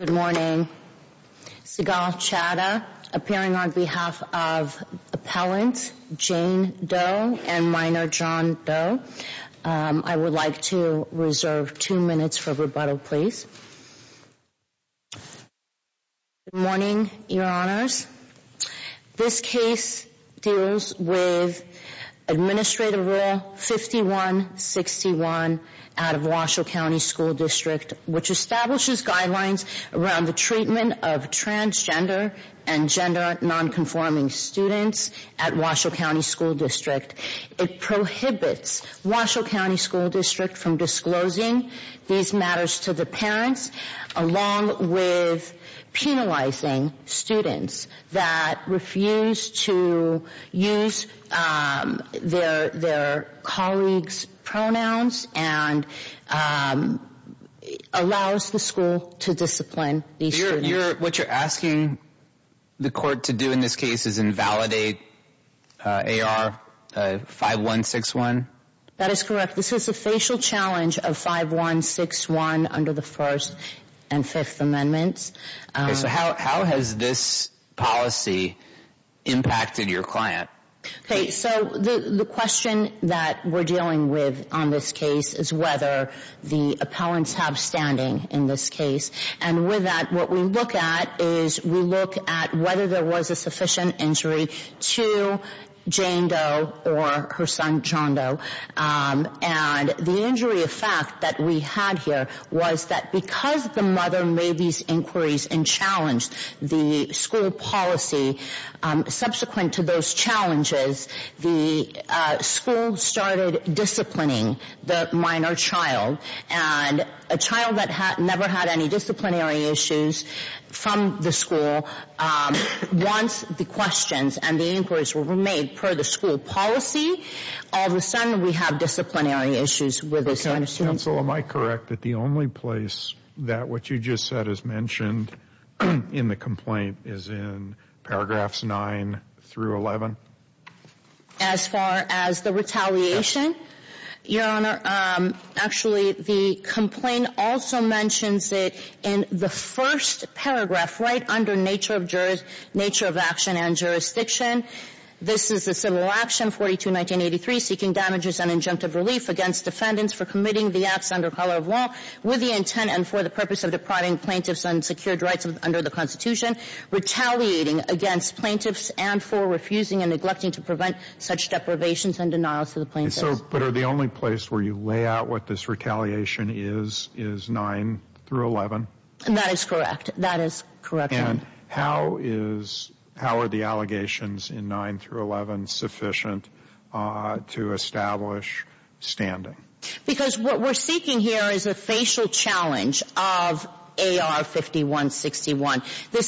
Good morning. Seagal Chadha, appearing on behalf of Appellant Jane Doe and Minor John Doe. I would like to reserve two minutes for rebuttal, please. Good morning, Your Honors. This case deals with Administrative Rule 5161 out of Washoe County School District, which establishes guidelines around the treatment of transgender and gender nonconforming students at Washoe County School District. It prohibits Washoe County School District from disclosing these matters to the parents, along with penalizing students that refuse to use their colleagues' pronouns and allows the school to discipline these students. What you're asking the court to do in this case is invalidate AR 5161? That is correct. This is a facial challenge of 5161 under the First and Fifth Amendments. How has this policy impacted your client? The question that we're dealing with on this case is whether the appellants have standing in this case. With that, what we look at is we look at whether there was a sufficient injury to Jane Doe or her son John Doe. The injury effect that we had here was that because the mother made these inquiries and challenged the school policy, subsequent to those challenges, the school started disciplining the minor child. A child that never had any disciplinary issues from the school, once the questions and the inquiries were made per the school policy, all of a sudden we have disciplinary issues with the same student. Counsel, am I correct that the only place that what you just said is mentioned in the complaint is in paragraphs 9 through 11? As far as the retaliation? Your Honor, actually, the complaint also mentions it in the first paragraph right under nature of action and jurisdiction. This is a civil action, 42-1983, seeking damages and injunctive relief against defendants for committing the acts under color of law with the intent and for the purpose of depriving plaintiffs unsecured rights under the Constitution, retaliating against plaintiffs and for refusing and neglecting to prevent such deprivations and denials to the plaintiffs. But the only place where you lay out what this retaliation is is 9 through 11? That is correct. That is correct, Your Honor. And how are the allegations in 9 through 11 sufficient to establish standing? Because what we're seeking here is a facial challenge of AR 5161. The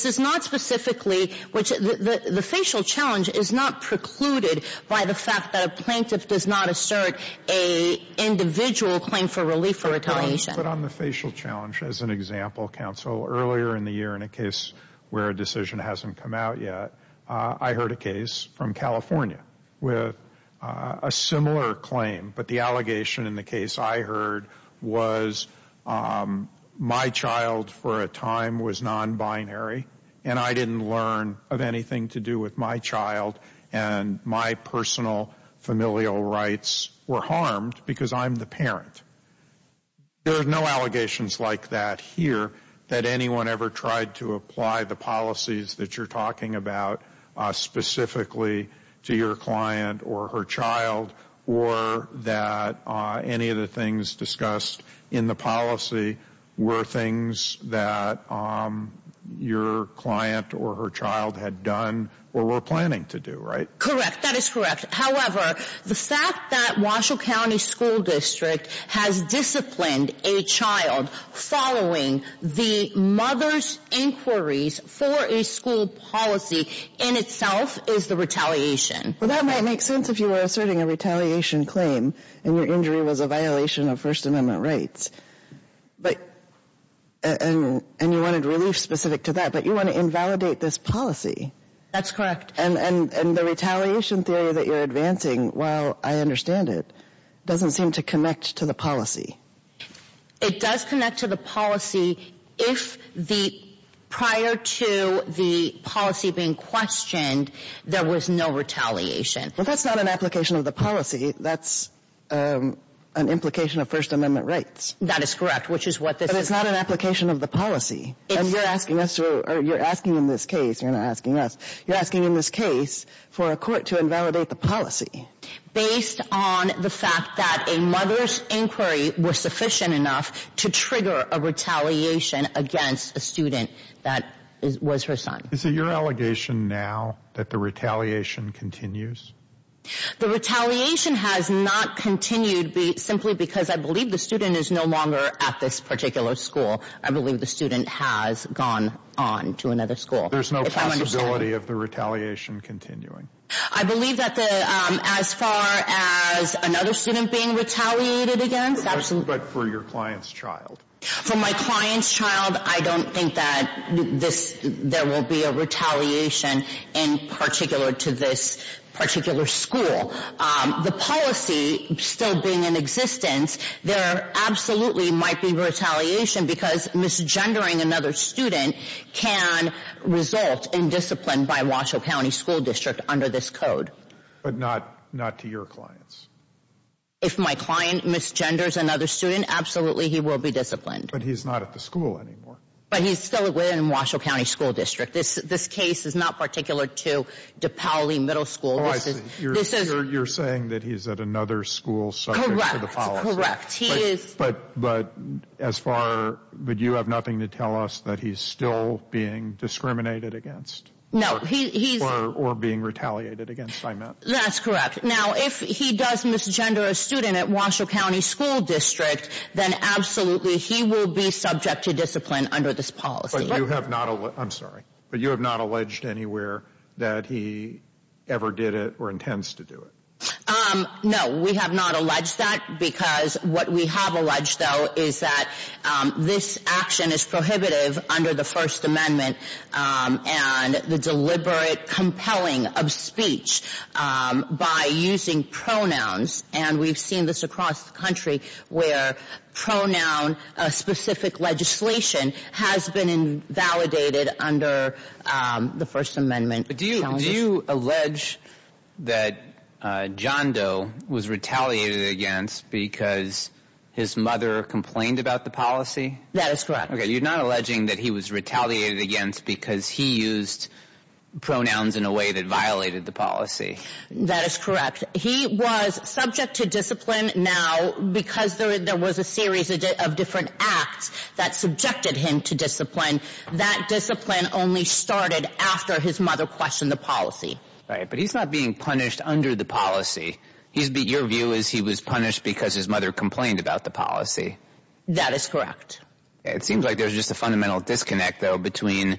facial challenge is not precluded by the fact that a plaintiff does not assert an individual claim for relief for retaliation. But on the facial challenge, as an example, Counsel, earlier in the year in a case where a decision hasn't come out yet, I heard a case from California with a similar claim, but the allegation in the case I heard was my child for a time was non-binary and I didn't learn of anything to do with my child and my personal familial rights were harmed because I'm the parent. There are no allegations like that here that anyone ever tried to apply the policies that you're talking about specifically to your client or her child or that any of the things discussed in the policy were things that your client or her child had done or were planning to do, right? Correct. That is correct. However, the fact that Washoe County School District has disciplined a child following the mother's inquiries for a school policy in itself is the retaliation. Well, that might make sense if you were asserting a retaliation claim and your injury was a violation of First Amendment rights. But, and you wanted relief specific to that, but you want to invalidate this policy. That's correct. And the retaliation theory that you're advancing, while I understand it, doesn't seem to connect to the policy. It does connect to the policy if the, prior to the policy being questioned, there was no retaliation. But that's not an application of the policy. That's an implication of First Amendment rights. That is correct, which is what this is. But it's not an application of the policy. And you're asking us to, or you're asking in this case, you're not asking us, you're asking in this case for a court to invalidate the policy. Based on the fact that a mother's inquiry was sufficient enough to trigger a retaliation against a student that was her son. Is it your allegation now that the retaliation continues? The retaliation has not continued simply because I believe the student is no longer at this particular school. I believe the student has gone on to another school. There's no possibility of the retaliation continuing. I believe that as far as another student being retaliated against. But for your client's child. For my client's child, I don't think that there will be a retaliation in particular to this particular school. The policy still being in existence, there absolutely might be retaliation because misgendering another student can result in discipline by Washoe County School District under this code. But not to your clients? If my client misgenders another student, absolutely he will be disciplined. But he's not at the school anymore. But he's still within Washoe County School District. This case is not particular to DePaoli Middle School. You're saying that he's at another school subject to the policy. Correct, correct. But you have nothing to tell us that he's still being discriminated against? Or being retaliated against? That's correct. Now if he does misgender a student at Washoe County School District, then absolutely he will be subject to discipline under this policy. But you have not alleged anywhere that he ever did it or intends to do it? No. We have not alleged that because what we have alleged, though, is that this action is prohibitive under the First Amendment and the deliberate compelling of speech by using pronouns. And we've seen this across the country where pronoun-specific legislation has been invalidated under the First Amendment. But do you allege that John Doe was retaliated against because his mother complained about the policy? That is correct. Okay, you're not alleging that he was retaliated against because he used pronouns in a way that violated the policy. That is correct. He was subject to discipline. Now because there was a series of different acts that subjected him to discipline, that discipline only started after his mother questioned the policy. Right, but he's not being punished under the policy. Your view is he was punished because his mother complained about the policy. That is correct. It seems like there's just a fundamental disconnect, though, between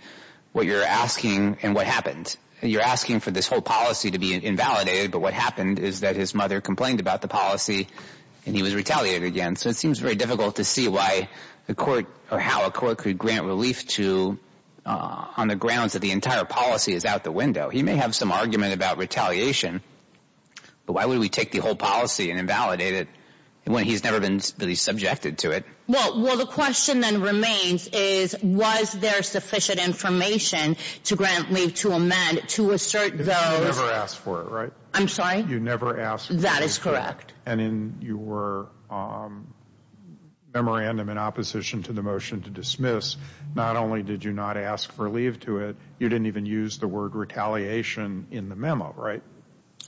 what you're asking and what happened. You're asking for this whole policy to be invalidated, but what happened is that his mother complained about the policy and he was retaliated against. So it seems very difficult to see why the court or how a court could grant relief to on the grounds that the entire policy is out the window. He may have some argument about retaliation, but why would we take the whole policy and invalidate it when he's never been really subjected to it? Well, the question then remains is was there sufficient information to grant relief, to amend, to assert those. You never asked for it, right? I'm sorry? You never asked for it. That is correct. And in your memorandum in opposition to the motion to dismiss, not only did you not ask for relief to it, you didn't even use the word retaliation in the memo, right?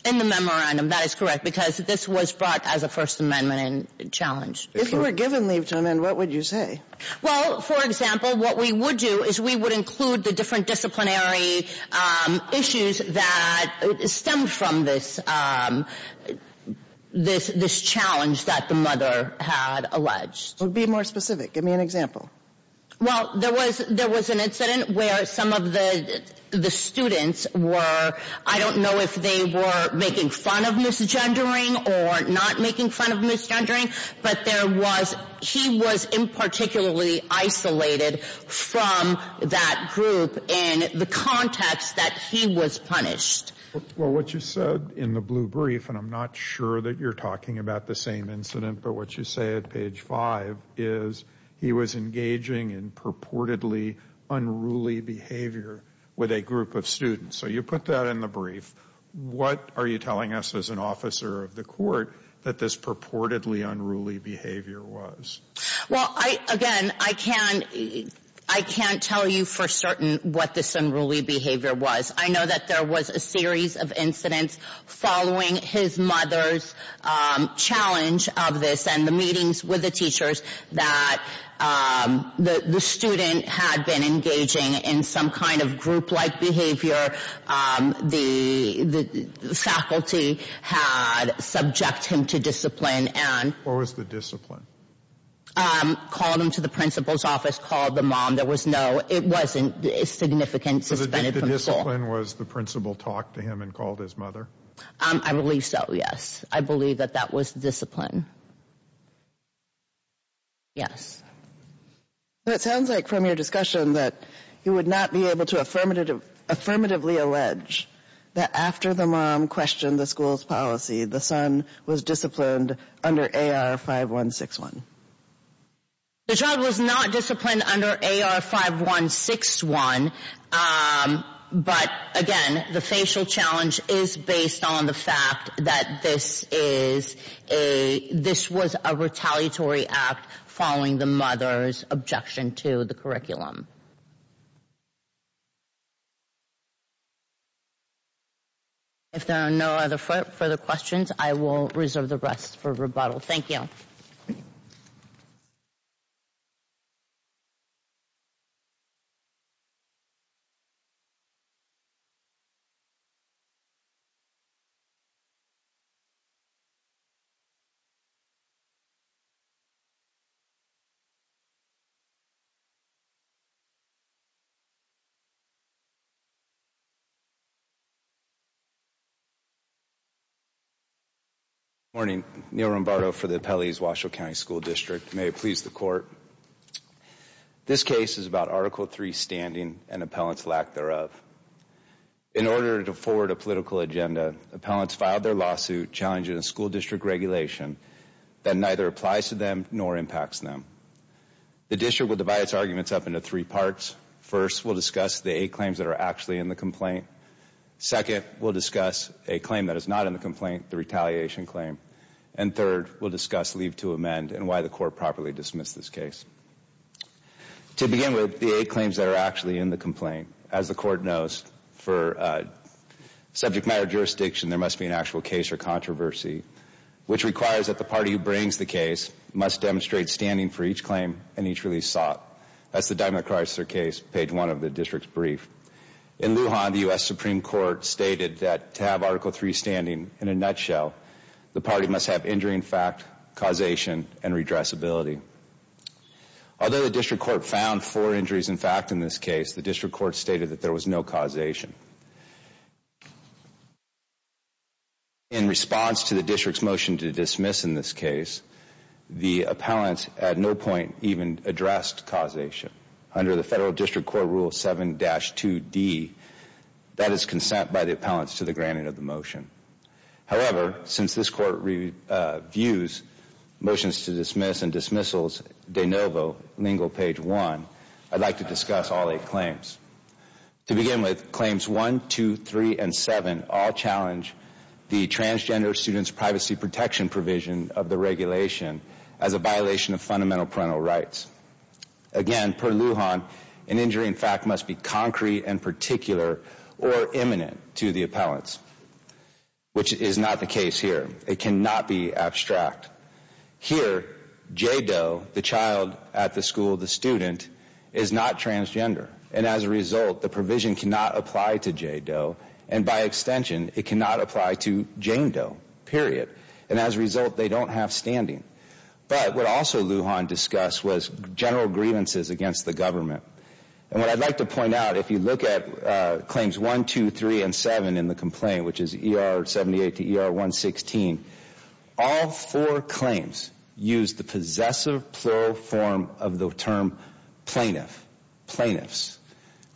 In the memorandum, that is correct, because this was brought as a First Amendment challenge. If you were given relief to amend, what would you say? Well, for example, what we would do is we would include the different disciplinary issues that stemmed from this challenge that the mother had alleged. Be more specific. Give me an example. Well, there was an incident where some of the students were, I don't know if they were making fun of misgendering or not making fun of misgendering, but he was in particularly isolated from that group in the context that he was punished. Well, what you said in the blue brief, and I'm not sure that you're talking about the same incident, but what you say at page 5 is he was engaging in purportedly unruly behavior with a group of students. So you put that in the brief. What are you telling us as an officer of the court that this purportedly unruly behavior was? Well, again, I can't tell you for certain what this unruly behavior was. I know that there was a series of incidents following his mother's challenge of this and the meetings with the teachers that the student had been engaging in some kind of group-like behavior. The faculty had subject him to discipline. What was the discipline? Called him to the principal's office, called the mom. There was no, it wasn't significant suspended from the school. So the discipline was the principal talked to him and called his mother? I believe so, yes. I believe that that was discipline. Yes. It sounds like from your discussion that you would not be able to affirmatively allege that after the mom questioned the school's policy, the son was disciplined under AR-5161. The child was not disciplined under AR-5161, but again, the facial challenge is based on the fact that this was a retaliatory act following the mother's objection to the curriculum. If there are no other further questions, I will reserve the rest for rebuttal. Thank you. Thank you. Good morning. Neil Rombardo for the Appellees Washoe County School District. May it please the Court. This case is about Article III standing and appellants lack thereof. In order to forward a political agenda, appellants filed their lawsuit challenging a school district regulation that neither applies to them nor impacts them. The district will divide its arguments up into three parts. First, we'll discuss the eight claims that are actually in the complaint. Second, we'll discuss a claim that is not in the complaint, the retaliation claim. And third, we'll discuss leave to amend and why the Court properly dismissed this case. To begin with, the eight claims that are actually in the complaint. As the Court knows, for subject matter jurisdiction, there must be an actual case or controversy, which requires that the party who brings the case must demonstrate standing for each claim and each release sought. That's the Diamond Chrysler case, page one of the district's brief. In Lujan, the U.S. Supreme Court stated that to have Article III standing, in a nutshell, the party must have injury in fact, causation, and redressability. Although the district court found four injuries in fact in this case, the district court stated that there was no causation. In response to the district's motion to dismiss in this case, the appellants at no point even addressed causation. Under the Federal District Court Rule 7-2D, that is consent by the appellants to the granting of the motion. However, since this Court views motions to dismiss and dismissals de novo, lingo page one, I'd like to discuss all eight claims. To begin with, claims one, two, three, and seven all challenge the transgender student's privacy protection provision of the regulation as a violation of fundamental parental rights. Again, per Lujan, an injury in fact must be concrete and particular or imminent to the appellants, which is not the case here. It cannot be abstract. Here, J. Doe, the child at the school, the student, is not transgender. And as a result, the provision cannot apply to J. Doe, and by extension, it cannot apply to Jane Doe, period. And as a result, they don't have standing. But what also Lujan discussed was general grievances against the government. And what I'd like to point out, if you look at claims one, two, three, and seven in the complaint, which is ER 78 to ER 116, all four claims use the possessive plural form of the term plaintiff, plaintiffs,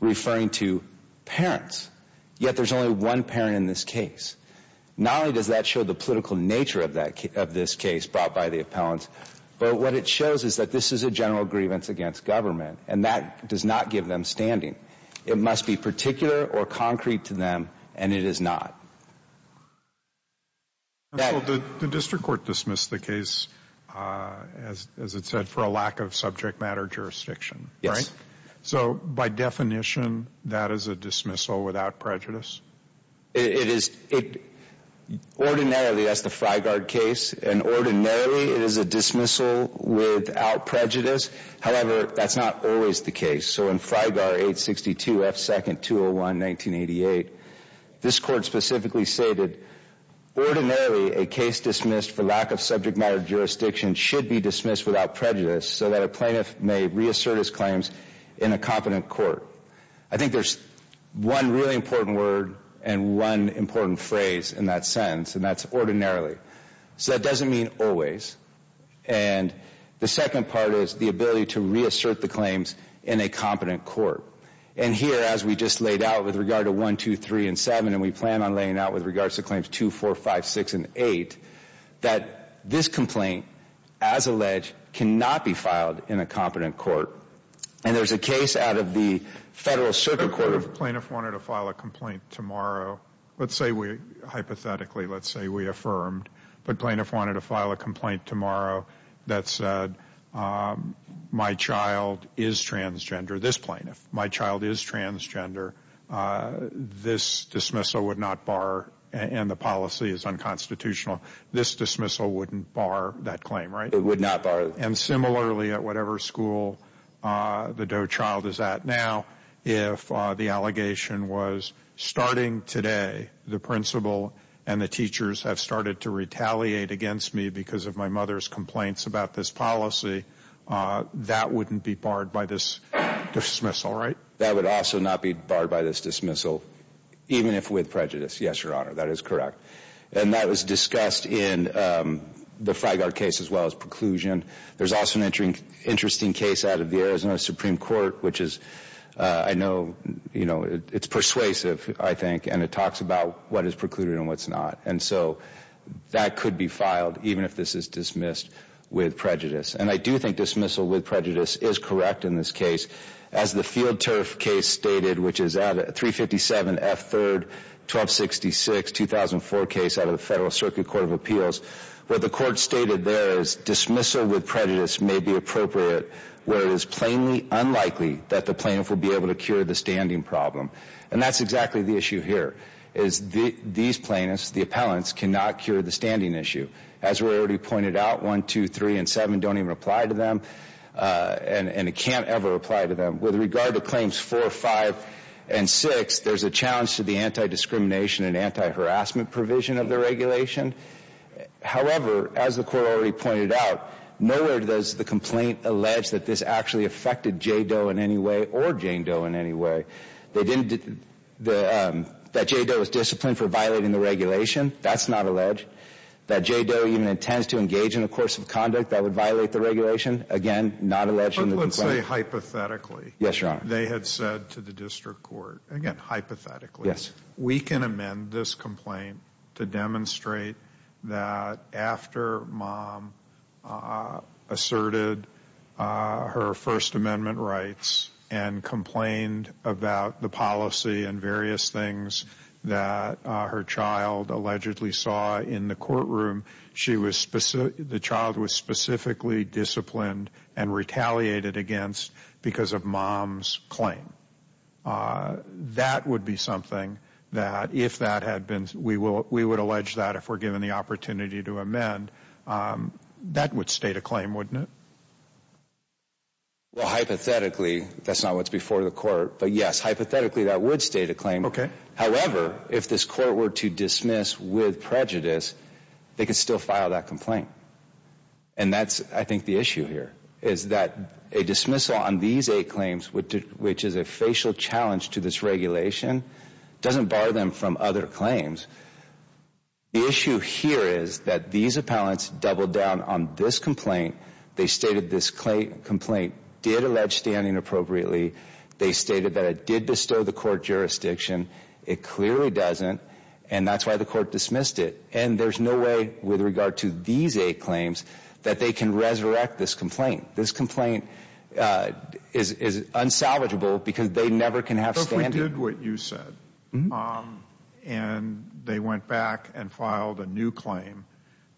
referring to parents, yet there's only one parent in this case. Not only does that show the political nature of this case brought by the appellants, but what it shows is that this is a general grievance against government, and that does not give them standing. It must be particular or concrete to them, and it is not. The district court dismissed the case, as it said, for a lack of subject matter jurisdiction. Yes. So by definition, that is a dismissal without prejudice? It is. Ordinarily, that's the Frigard case. And ordinarily, it is a dismissal without prejudice. However, that's not always the case. So in Frigard 862F2-201-1988, this court specifically stated, ordinarily a case dismissed for lack of subject matter jurisdiction should be dismissed without prejudice so that a plaintiff may reassert his claims in a competent court. I think there's one really important word and one important phrase in that sentence, and that's ordinarily. So that doesn't mean always. And the second part is the ability to reassert the claims in a competent court. And here, as we just laid out with regard to 1, 2, 3, and 7, and we plan on laying out with regards to claims 2, 4, 5, 6, and 8, that this complaint, as alleged, cannot be filed in a competent court. And there's a case out of the Federal Circuit Court. If a plaintiff wanted to file a complaint tomorrow, hypothetically, let's say we affirmed, but a plaintiff wanted to file a complaint tomorrow that said, my child is transgender, this plaintiff, my child is transgender, this dismissal would not bar, and the policy is unconstitutional, this dismissal wouldn't bar that claim, right? It would not bar it. And similarly, at whatever school the Doe child is at now, if the allegation was, starting today, the principal and the teachers have started to retaliate against me because of my mother's complaints about this policy, that wouldn't be barred by this dismissal, right? That would also not be barred by this dismissal, even if with prejudice. Yes, Your Honor, that is correct. And that was discussed in the Freigard case, as well as preclusion. There's also an interesting case out of the Arizona Supreme Court, which is, I know, you know, it's persuasive, I think, and it talks about what is precluded and what's not. And so that could be filed, even if this is dismissed with prejudice. And I do think dismissal with prejudice is correct in this case. As the Field Turf case stated, which is at 357 F. 3rd 1266, 2004 case out of the Federal Circuit Court of Appeals, what the court stated there is dismissal with prejudice may be appropriate where it is plainly unlikely that the plaintiff will be able to cure the standing problem. And that's exactly the issue here, is these plaintiffs, the appellants, cannot cure the standing issue. As we already pointed out, 1, 2, 3, and 7 don't even apply to them, and it can't ever apply to them. With regard to claims 4, 5, and 6, there's a challenge to the anti-discrimination and anti-harassment provision of the regulation. However, as the court already pointed out, nowhere does the complaint allege that this actually affected J. Doe in any way, or Jane Doe in any way. They didn't, that J. Doe was disciplined for violating the regulation, that's not alleged. That J. Doe even intends to engage in a course of conduct that would violate the regulation, again, not alleging the complaint. But let's say hypothetically. Yes, Your Honor. They had said to the district court, again, hypothetically, we can amend this complaint to demonstrate that after Mom asserted her First Amendment rights and complained about the policy and various things that her child allegedly saw in the courtroom, the child was specifically disciplined and retaliated against because of Mom's claim. That would be something that if that had been, we would allege that if we're given the opportunity to amend, that would state a claim, wouldn't it? Well, hypothetically, that's not what's before the court, but yes, hypothetically that would state a claim. Okay. However, if this court were to dismiss with prejudice, they could still file that complaint. And that's, I think, the issue here, is that a dismissal on these eight claims, which is a facial challenge to this regulation, doesn't bar them from other claims. The issue here is that these appellants doubled down on this complaint. They stated this complaint did allege standing appropriately. They stated that it did bestow the court jurisdiction. It clearly doesn't, and that's why the court dismissed it. And there's no way, with regard to these eight claims, that they can resurrect this complaint. This complaint is unsalvageable because they never can have standing. What if we did what you said, and they went back and filed a new claim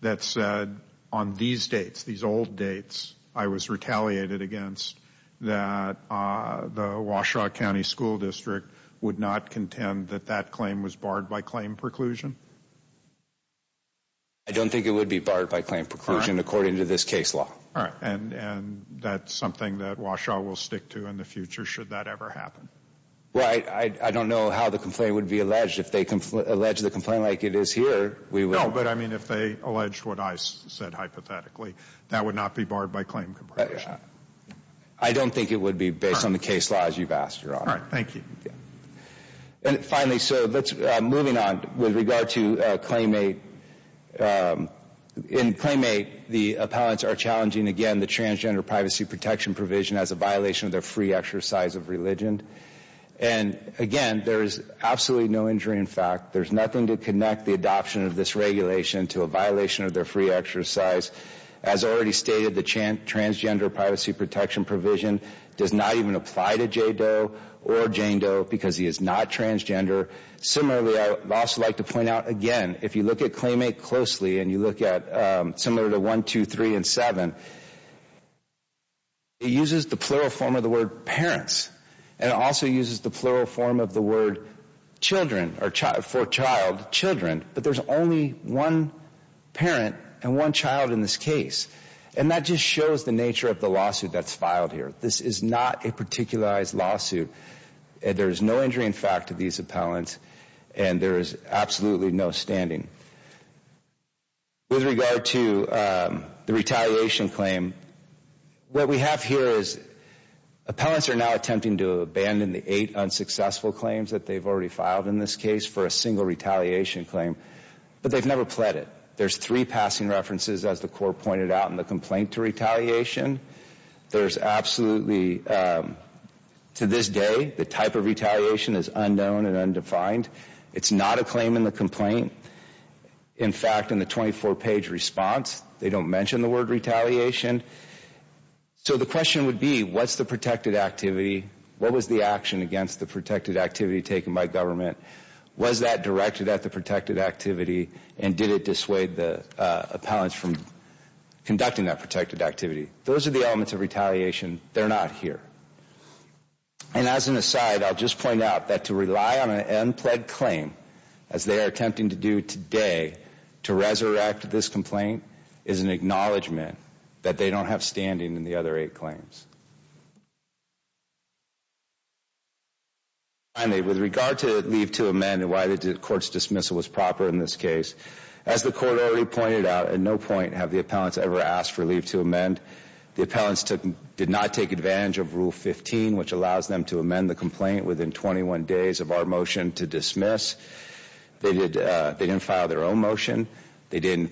that said, on these dates, these old dates, I was retaliated against, that the Washaw County School District would not contend that that claim was barred by claim preclusion? I don't think it would be barred by claim preclusion, according to this case law. And that's something that Washaw will stick to in the future, should that ever happen? Well, I don't know how the complaint would be alleged. If they allege the complaint like it is here, we will... No, but, I mean, if they alleged what I said, hypothetically, that would not be barred by claim preclusion. I don't think it would be, based on the case law, as you've asked, Your Honor. All right. Thank you. And finally, so, moving on, with regard to Claim 8. In Claim 8, the appellants are challenging, again, the Transgender Privacy Protection Provision as a violation of their free exercise of religion. And, again, there is absolutely no injury in fact. There's nothing to connect the adoption of this regulation to a violation of their free exercise. As already stated, the Transgender Privacy Protection Provision does not even apply to Jay Doe or Jane Doe, because he is not transgender. Similarly, I would also like to point out, again, if you look at Claim 8 closely, and you look at, similar to 1, 2, 3, and 7, it uses the plural form of the word parents. And it also uses the plural form of the word children, or for child, children. But there's only one parent and one child in this case. And that just shows the nature of the lawsuit that's filed here. This is not a particularized lawsuit. There is no injury in fact to these appellants, and there is absolutely no standing. With regard to the retaliation claim, what we have here is appellants are now attempting to abandon the eight unsuccessful claims that they've already filed in this case for a single retaliation claim, but they've never pled it. There's three passing references, as the court pointed out, in the complaint to retaliation. There's absolutely, to this day, the type of retaliation is unknown and undefined. It's not a claim in the complaint. In fact, in the 24-page response, they don't mention the word retaliation. So the question would be, what's the protected activity? What was the action against the protected activity taken by government? Was that directed at the protected activity, and did it dissuade the appellants from conducting that protected activity? Those are the elements of retaliation. They're not here. And as an aside, I'll just point out that to rely on an unpledged claim, as they are attempting to do today, to resurrect this complaint, is an acknowledgment that they don't have standing in the other eight claims. Finally, with regard to leave to amend and why the court's dismissal was proper in this case, as the court already pointed out, at no point have the appellants ever asked for leave to amend. The appellants did not take advantage of Rule 15, which allows them to amend the complaint within 21 days of our motion to dismiss. They didn't file their own motion. They didn't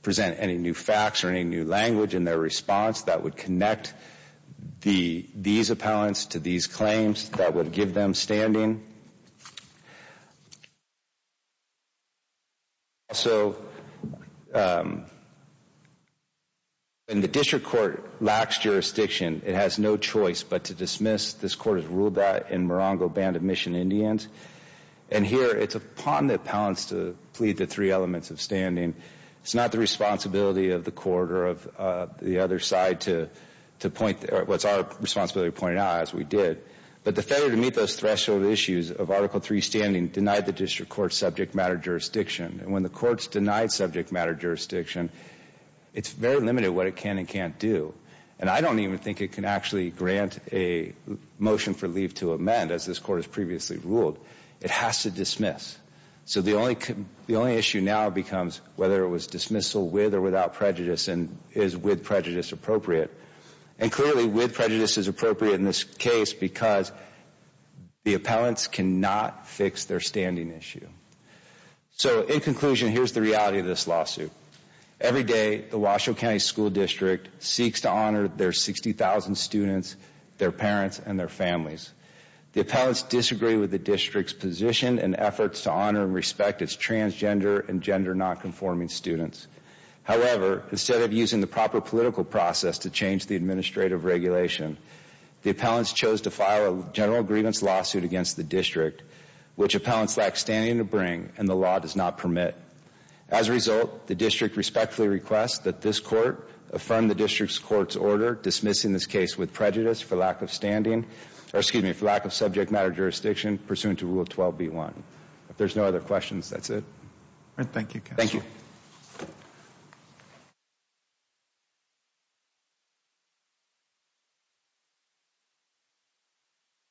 present any new facts or any new language in their response that would connect these appellants to these claims that would give them standing. Also, when the district court lacks jurisdiction, it has no choice but to dismiss. This court has ruled that in Morongo Band of Mission Indians. And here, it's upon the appellants to plead the three elements of standing. It's not the responsibility of the court or of the other side to point, or it's our responsibility to point it out, as we did. But the failure to meet those threshold issues of Article III standing denied the district court subject matter jurisdiction. And when the court's denied subject matter jurisdiction, it's very limited what it can and can't do. And I don't even think it can actually grant a motion for leave to amend, as this court has previously ruled. It has to dismiss. So the only issue now becomes whether it was dismissal with or without prejudice and is with prejudice appropriate. And clearly, with prejudice is appropriate in this case because the appellants cannot fix their standing issue. So in conclusion, here's the reality of this lawsuit. Every day, the Washoe County School District seeks to honor their 60,000 students, their parents, and their families. The appellants disagree with the district's position and efforts to honor and respect its transgender and gender nonconforming students. However, instead of using the proper political process to change the administrative regulation, the appellants chose to file a general grievance lawsuit against the district, which appellants lack standing to bring and the law does not permit. As a result, the district respectfully requests that this court affirm the district's court's order dismissing this case with prejudice for lack of standing, or excuse me, for lack of subject matter jurisdiction pursuant to Rule 12b-1. If there's no other questions, that's it. Thank you, counsel. Thank you.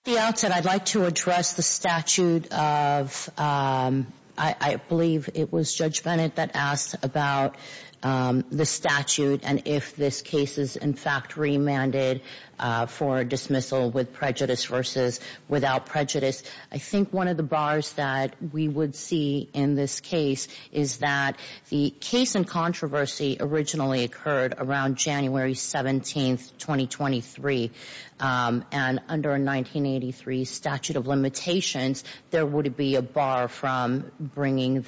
At the outset, I'd like to address the statute of... I believe it was Judge Bennett that asked about the statute and if this case is in fact remanded for dismissal with prejudice versus without prejudice. I think one of the bars that we would see in this case is that the case in controversy originally occurred around January 17th, 2023 and under 1983 statute of limitations, there would be a bar from bringing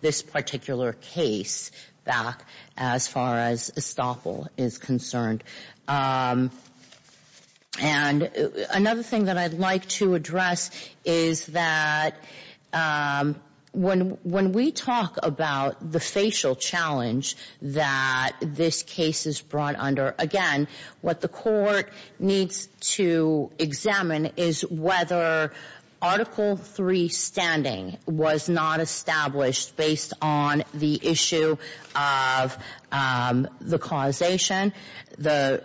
this particular case back as far as estoppel is concerned. Another thing that I'd like to address is that when we talk about the facial challenge that this case is brought under, again, what the court needs to examine is whether Article III standing was not established based on the issue of the causation, the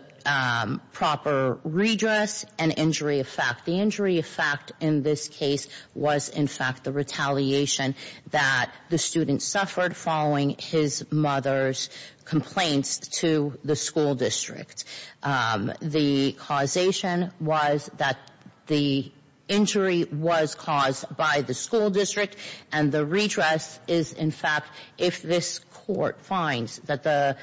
proper redress, and injury effect. The injury effect in this case was in fact the retaliation that the student suffered following his mother's complaints to the school district. The causation was that the injury was caused by the school district and the redress is in fact if this court finds that the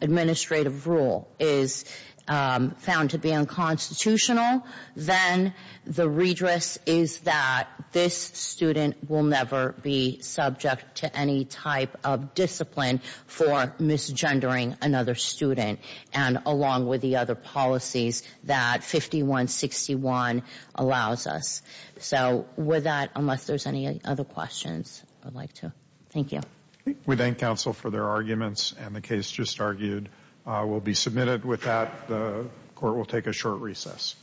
administrative rule is found to be unconstitutional, then the redress is that this student will never be subject to any type of discipline for misgendering another student and along with the other policies that 5161 allows us. So with that, unless there's any other questions, I'd like to thank you. We thank counsel for their arguments and the case just argued will be submitted. With that, the court will take a short recess.